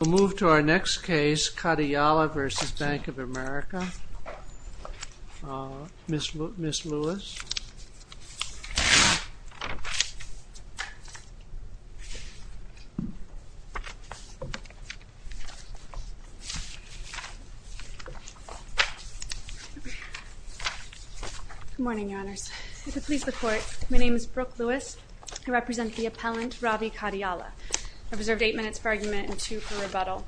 We'll move to our next case, Kadiyala v. Bank of America, Ms. Lewis. Good morning, Your Honors. If it pleases the Court, my name is Brooke Lewis. I represent the appellant, Ravi Kadiyala. I've observed eight minutes for argument and two for rebuttal.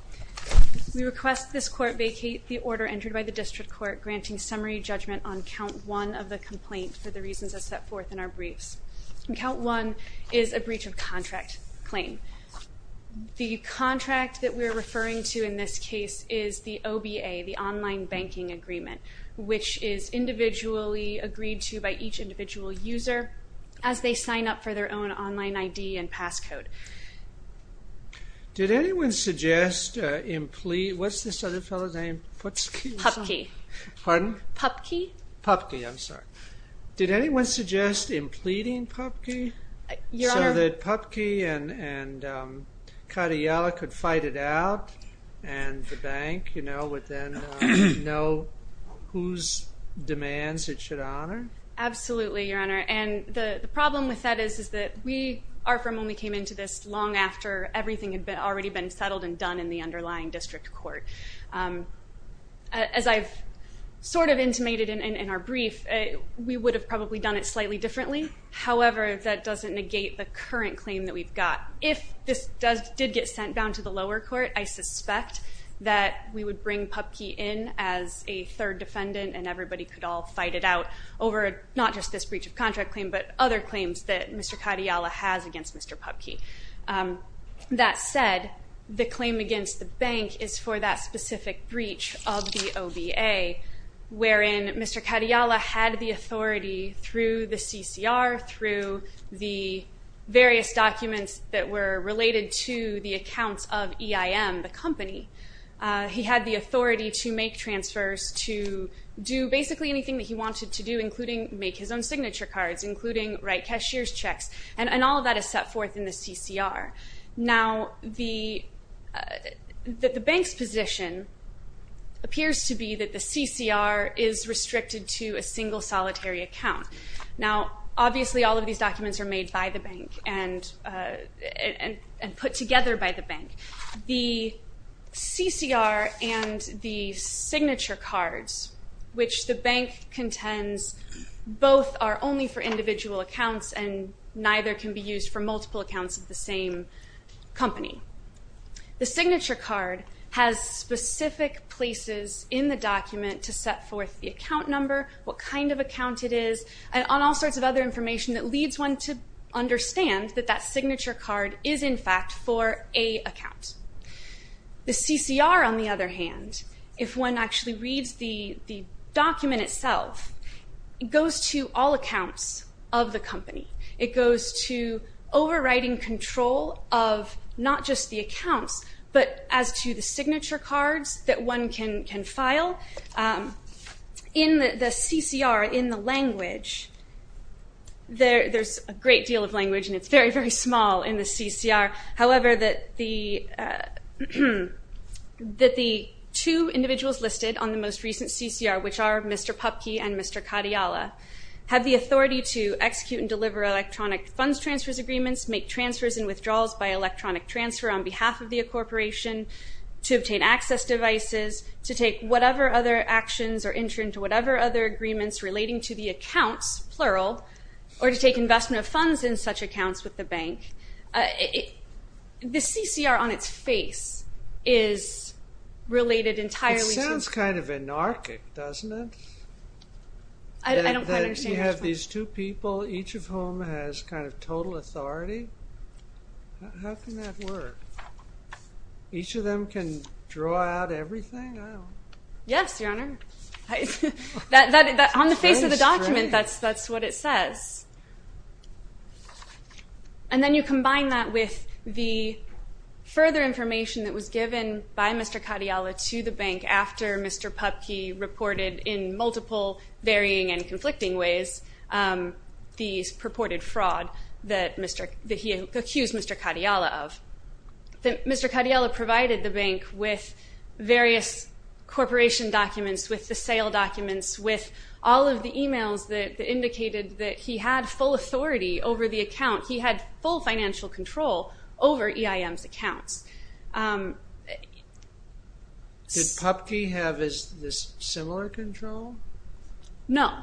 We request this Court vacate the order entered by the District Court granting summary judgment on count one of the complaint for the reasons as set forth in our briefs. Count one is a breach of contract claim. The contract that we're referring to in this case is the OBA, the Online Banking Agreement, which is individually agreed to by each individual user as they sign up for their own online ID and passcode. Did anyone suggest imple- what's this other fellow's name, Putski? Pupke. Pardon? Pupke. Pupke, I'm sorry. Did anyone suggest impleting Pupke so that Pupke and Kadiyala could fight it out and Absolutely, Your Honor. The problem with that is that we are from when we came into this long after everything had already been settled and done in the underlying District Court. As I've sort of intimated in our brief, we would have probably done it slightly differently. However, that doesn't negate the current claim that we've got. If this did get sent down to the lower court, I suspect that we would bring Pupke in as a third defendant and everybody could all fight it out over not just this breach of contract claim, but other claims that Mr. Kadiyala has against Mr. Pupke. That said, the claim against the bank is for that specific breach of the OBA, wherein Mr. Kadiyala had the authority through the CCR, through the various documents that were related to the accounts of EIM, the company. He had the authority to make transfers, to do basically anything that he wanted to do, including make his own signature cards, including write cashier's checks, and all of that is set forth in the CCR. Now, the bank's position appears to be that the CCR is restricted to a single solitary account. Now, obviously all of these documents are made by the bank and put together by the bank. The CCR and the signature cards, which the bank contends both are only for individual accounts and neither can be used for multiple accounts of the same company. The signature card has specific places in the document to set forth the account number, what kind of account it is, and all sorts of other information that leads one to understand that that signature card is in fact for a account. The CCR, on the other hand, if one actually reads the document itself, it goes to all accounts of the company. It goes to overriding control of not just the accounts, but as to the signature cards that one can file. Now, in the CCR, in the language, there's a great deal of language and it's very, very small in the CCR. However, that the two individuals listed on the most recent CCR, which are Mr. Pupke and Mr. Kadiala, have the authority to execute and deliver electronic funds transfers agreements, make transfers and withdrawals by electronic transfer on behalf of the corporation, to whatever other actions or enter into whatever other agreements relating to the accounts, plural, or to take investment of funds in such accounts with the bank, the CCR on its face is related entirely to- It sounds kind of anarchic, doesn't it? I don't quite understand what you're talking about. That you have these two people, each of whom has kind of total authority? How can that work? Each of them can draw out everything? Yes, Your Honor. On the face of the document, that's what it says. And then you combine that with the further information that was given by Mr. Kadiala to the bank after Mr. Pupke reported in multiple varying and conflicting ways the purported fraud that he accused Mr. Kadiala of. Mr. Kadiala provided the bank with various corporation documents, with the sale documents, with all of the emails that indicated that he had full authority over the account. He had full financial control over EIM's accounts. Did Pupke have this similar control? No.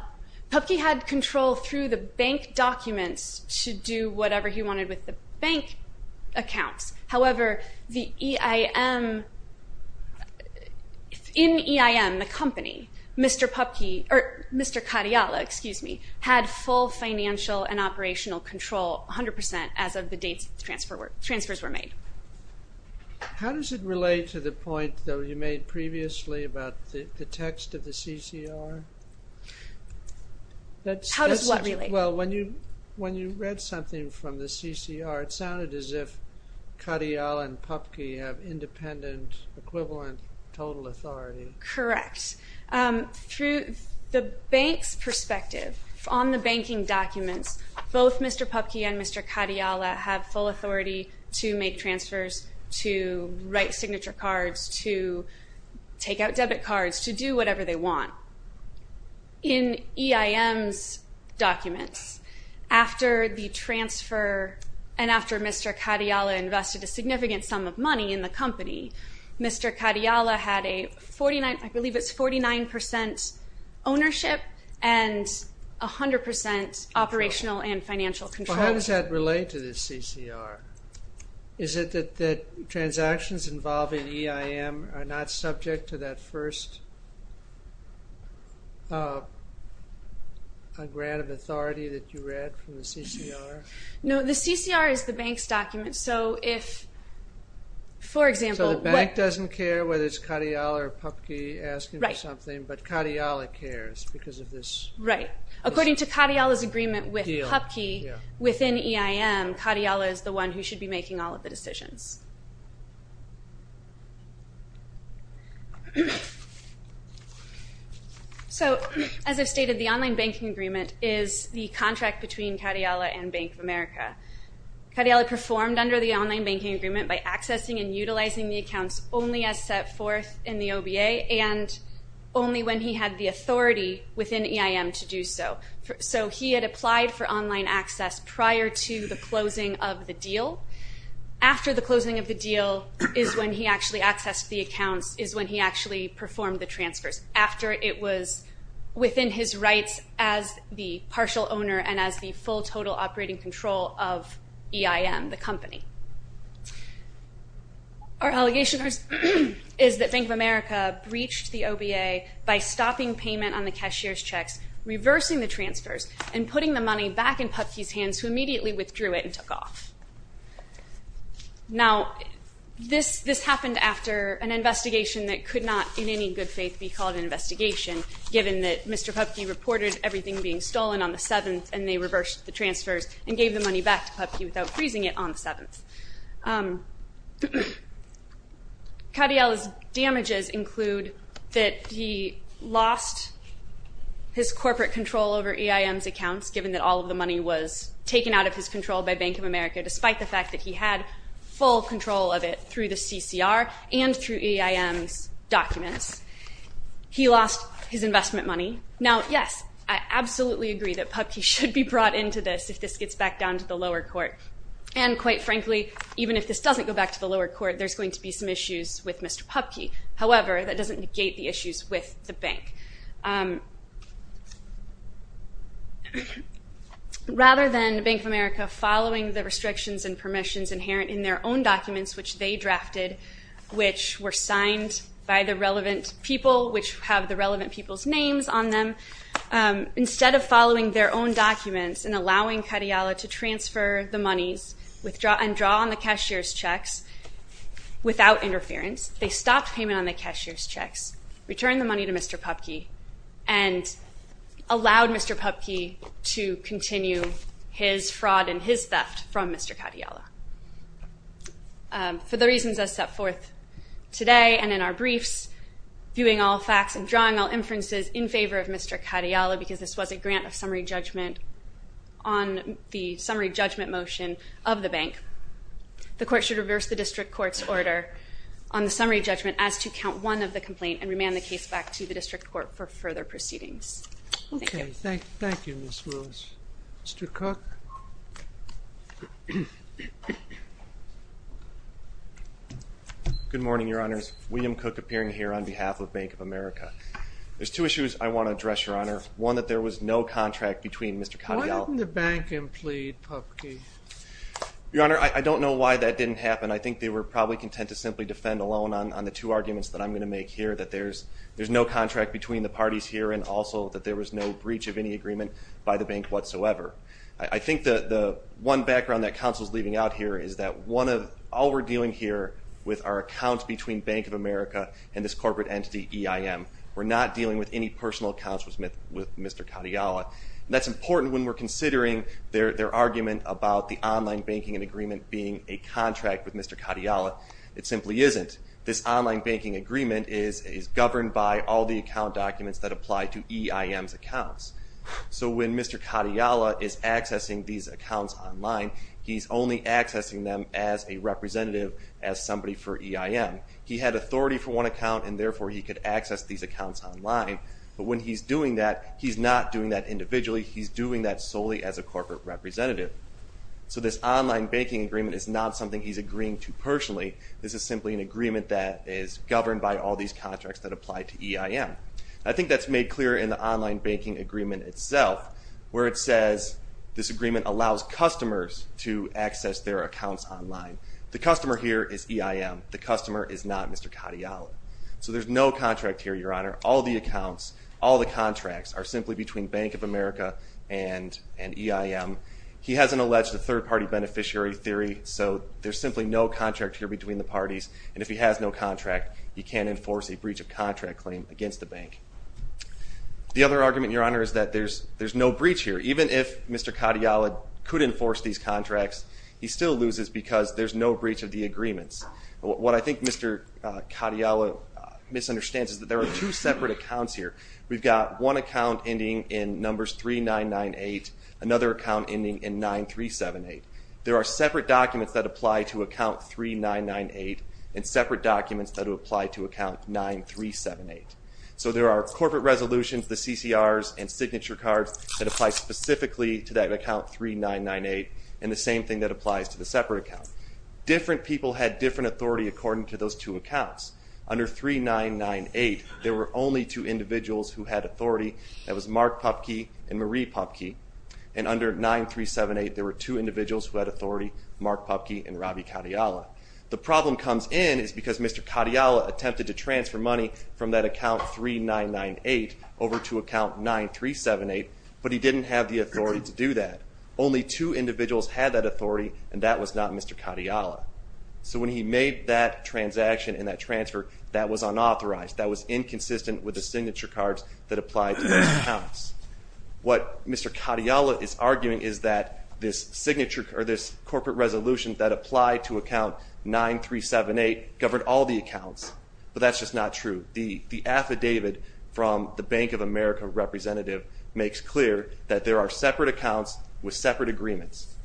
Pupke had control through the bank documents to do whatever he wanted with the bank accounts. However, in EIM, the company, Mr. Kadiala had full financial and operational control 100% as of the date transfers were made. How does it relate to the point, though, you made previously about the text of the CCR? How does what relate? Well, when you read something from the CCR, it sounded as if Kadiala and Pupke have independent, equivalent total authority. Correct. Through the bank's perspective, on the banking documents, both Mr. Pupke and Mr. Kadiala have full authority to make transfers, to write signature cards, to take out debit cards, to do whatever they want. In EIM's documents, after the transfer and after Mr. Kadiala invested a significant sum of money in the company, Mr. Kadiala had a 49% ownership and 100% operational and financial control. How does that relate to the CCR? Is it that transactions involved in EIM are not subject to that first grant of authority that you read from the CCR? No, the CCR is the bank's document, so if, for example... So the bank doesn't care whether it's Kadiala or Pupke asking for something, but Kadiala cares because of this... Right. According to Kadiala's agreement with Pupke, within EIM, Kadiala is the one who should be making all of the decisions. So as I've stated, the online banking agreement is the contract between Kadiala and Bank of America. Kadiala performed under the online banking agreement by accessing and utilizing the accounts only as set forth in the OBA and only when he had the authority within EIM to do so. So he had applied for online access prior to the closing of the deal. After the closing of the deal is when he actually accessed the accounts, is when he actually performed the transfers, after it was within his rights as the partial owner and as the full total operating control of EIM, the company. Our allegation is that Bank of America breached the OBA by stopping payment on the cashier's checks, reversing the transfers, and putting the money back in Pupke's hands, who immediately withdrew it and took off. Now, this happened after an investigation that could not in any good faith be called an investigation, given that Mr. Pupke reported everything being stolen on the 7th and they reversed the transfers and gave the money back to Pupke without freezing it on the 7th. Kadiala's damages include that he lost his corporate control over EIM's accounts, given that all of the money was taken out of his control by Bank of America, despite the fact that he had full control of it through the CCR and through EIM's documents. He lost his investment money. Now, yes, I absolutely agree that Pupke should be brought into this if this gets back down to the lower court. And quite frankly, even if this doesn't go back to the lower court, there's going to be some issues with Mr. Pupke. However, that doesn't negate the issues with the bank. Rather than Bank of America following the restrictions and permissions inherent in their own documents, which they drafted, which were signed by the relevant people, which have the relevant people's names on them, instead of following their own documents and allowing Kadiala to transfer the monies and draw on the cashier's checks without interference, they stopped payment on the cashier's checks, returned the money to Mr. Pupke, and allowed Mr. Pupke to continue his fraud and his theft from Mr. Kadiala. For the reasons I set forth today and in our briefs, viewing all facts and drawing all inferences in favor of Mr. Kadiala, because this was a grant of summary judgment on the summary judgment motion of the bank, the court should reverse the district court's order on the summary judgment as to count one of the complaint and remand the case back to the district court for further proceedings. Thank you. Thank you, Ms. Lewis. Mr. Cook. Good morning, Your Honors. William Cook appearing here on behalf of Bank of America. There's two issues I want to address, Your Honor. One, that there was no contract between Mr. Kadiala. Why didn't the bank implede Pupke? Your Honor, I don't know why that didn't happen. I think they were probably content to simply defend alone on the two arguments that I'm going to make here, that there's no contract between the parties here and also that there was no breach of any agreement by the bank whatsoever. I think the one background that counsel is leaving out here is that all we're dealing here with are accounts between Bank of America and this corporate entity EIM. We're not dealing with any personal accounts with Mr. Kadiala. That's important when we're considering their argument about the online banking agreement being a contract with Mr. Kadiala. It simply isn't. This online banking agreement is governed by all the account documents that apply to EIM's accounts. So when Mr. Kadiala is accessing these accounts online, he's only accessing them as a representative, as somebody for EIM. He had authority for one account, and therefore he could access these accounts online. But when he's doing that, he's not doing that individually. He's doing that solely as a corporate representative. So this online banking agreement is not something he's agreeing to personally. This is simply an agreement that is governed by all these contracts that apply to EIM. I think that's made clear in the online banking agreement itself, where it says this agreement allows customers to access their accounts online. The customer here is EIM. The customer is not Mr. Kadiala. So there's no contract here, Your Honor. All the accounts, all the contracts are simply between Bank of America and EIM. He hasn't alleged a third-party beneficiary theory, so there's simply no contract here between the parties. And if he has no contract, he can't enforce a breach of contract claim against the bank. The other argument, Your Honor, is that there's no breach here. Even if Mr. Kadiala could enforce these contracts, he still loses because there's no breach of the agreements. What I think Mr. Kadiala misunderstands is that there are two separate accounts here. We've got one account ending in numbers 3998, another account ending in 9378. There are separate documents that apply to account 3998 and separate documents that apply to account 9378. So there are corporate resolutions, the CCRs, and signature cards that apply specifically to that account 3998 and the same thing that applies to the separate account. Different people had different authority according to those two accounts. Under 3998, there were only two individuals who had authority. That was Mark Pupke and Marie Pupke. And under 9378, there were two individuals who had authority, Mark Pupke and Robbie Kadiala. The problem comes in is because Mr. Kadiala attempted to transfer money from that account 3998 over to account 9378, but he didn't have the authority to do that. Only two individuals had that authority, and that was not Mr. Kadiala. So when he made that transaction and that transfer, that was unauthorized. That was inconsistent with the signature cards that apply to those accounts. What Mr. Kadiala is arguing is that this corporate resolution that applied to account 9378 governed all the accounts, but that's just not true. The affidavit from the Bank of America representative makes clear that there are separate accounts with separate agreements.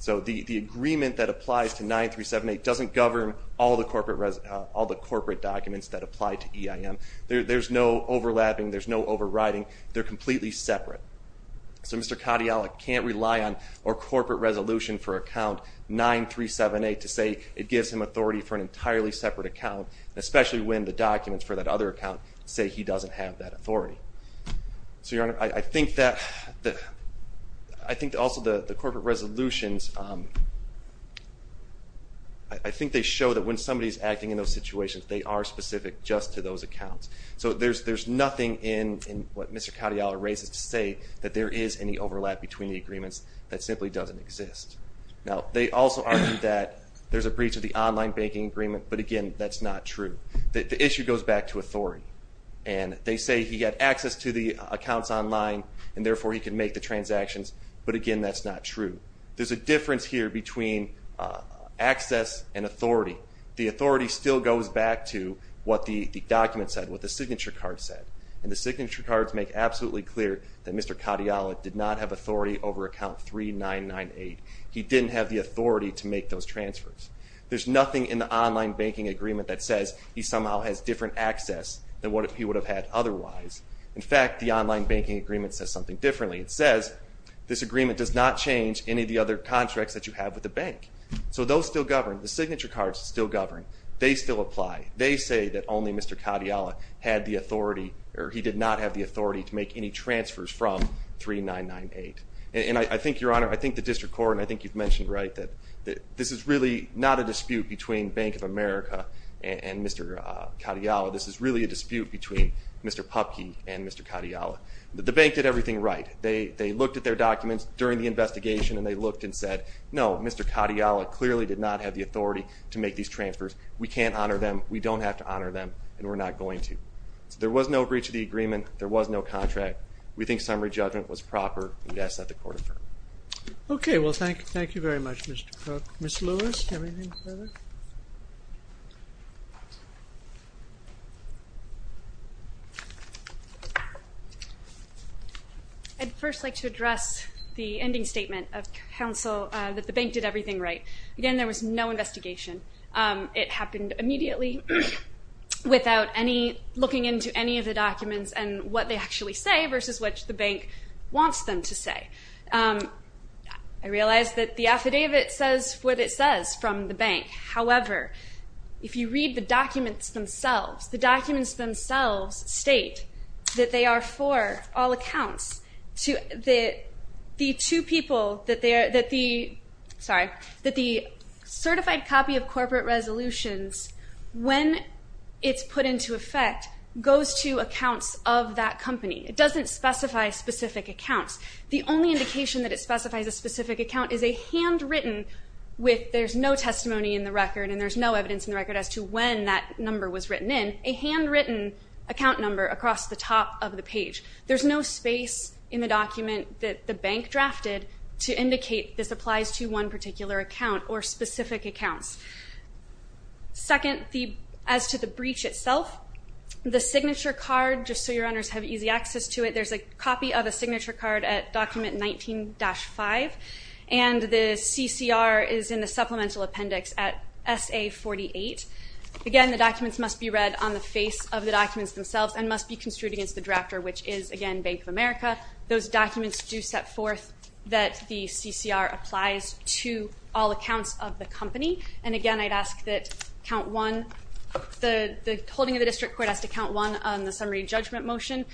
So the agreement that applies to 9378 doesn't govern all the corporate documents that apply to EIM. There's no overlapping. There's no overriding. They're completely separate. So Mr. Kadiala can't rely on our corporate resolution for account 9378 to say it gives him authority for an entirely separate account, especially when the documents for that other account say he doesn't have that authority. So, Your Honor, I think also the corporate resolutions, I think they show that when somebody's acting in those situations, they are specific just to those accounts. So there's nothing in what Mr. Kadiala raises to say that there is any overlap between the agreements that simply doesn't exist. Now, they also argue that there's a breach of the online banking agreement, but, again, that's not true. The issue goes back to authority. And they say he had access to the accounts online, and therefore he could make the transactions, but, again, that's not true. There's a difference here between access and authority. So the authority still goes back to what the document said, what the signature card said. And the signature cards make absolutely clear that Mr. Kadiala did not have authority over account 3998. He didn't have the authority to make those transfers. There's nothing in the online banking agreement that says he somehow has different access than what he would have had otherwise. In fact, the online banking agreement says something differently. It says this agreement does not change any of the other contracts that you have with the bank. So those still govern. The signature cards still govern. They still apply. They say that only Mr. Kadiala had the authority, or he did not have the authority to make any transfers from 3998. And I think, Your Honor, I think the district court, and I think you've mentioned right, that this is really not a dispute between Bank of America and Mr. Kadiala. This is really a dispute between Mr. Pupke and Mr. Kadiala. The bank did everything right. They looked at their documents during the investigation, and they looked and said, no, Mr. Kadiala clearly did not have the authority to make these transfers. We can't honor them. We don't have to honor them, and we're not going to. So there was no breach of the agreement. There was no contract. We think summary judgment was proper, and we ask that the court affirm. Okay. Well, thank you very much, Mr. Pupke. Ms. Lewis, do you have anything further? I'd first like to address the ending statement of counsel that the bank did everything right. Again, there was no investigation. It happened immediately without any looking into any of the documents and what they actually say versus what the bank wants them to say. I realize that the affidavit says what it says from the bank. However, if you read the documents themselves, the documents themselves state that they are for all accounts, that the two people, that the certified copy of corporate resolutions, when it's put into effect, goes to accounts of that company. It doesn't specify specific accounts. The only indication that it specifies a specific account is a handwritten, there's no testimony in the record and there's no evidence in the record as to when that number was written in, a handwritten account number across the top of the page. There's no space in the document that the bank drafted to indicate this applies to one particular account or specific accounts. Second, as to the breach itself, the signature card, just so your owners have easy access to it, there's a copy of a signature card at document 19-5 and the CCR is in the supplemental appendix at SA48. Again, the documents must be read on the face of the documents themselves and must be construed against the drafter, which is, again, Bank of America. Those documents do set forth that the CCR applies to all accounts of the company. And again, I'd ask that the holding of the district court has to count one on the summary judgment motion,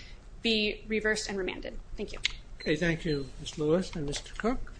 be reversed and remanded. Thank you. Okay, thank you, Ms. Lewis and Mr. Cook.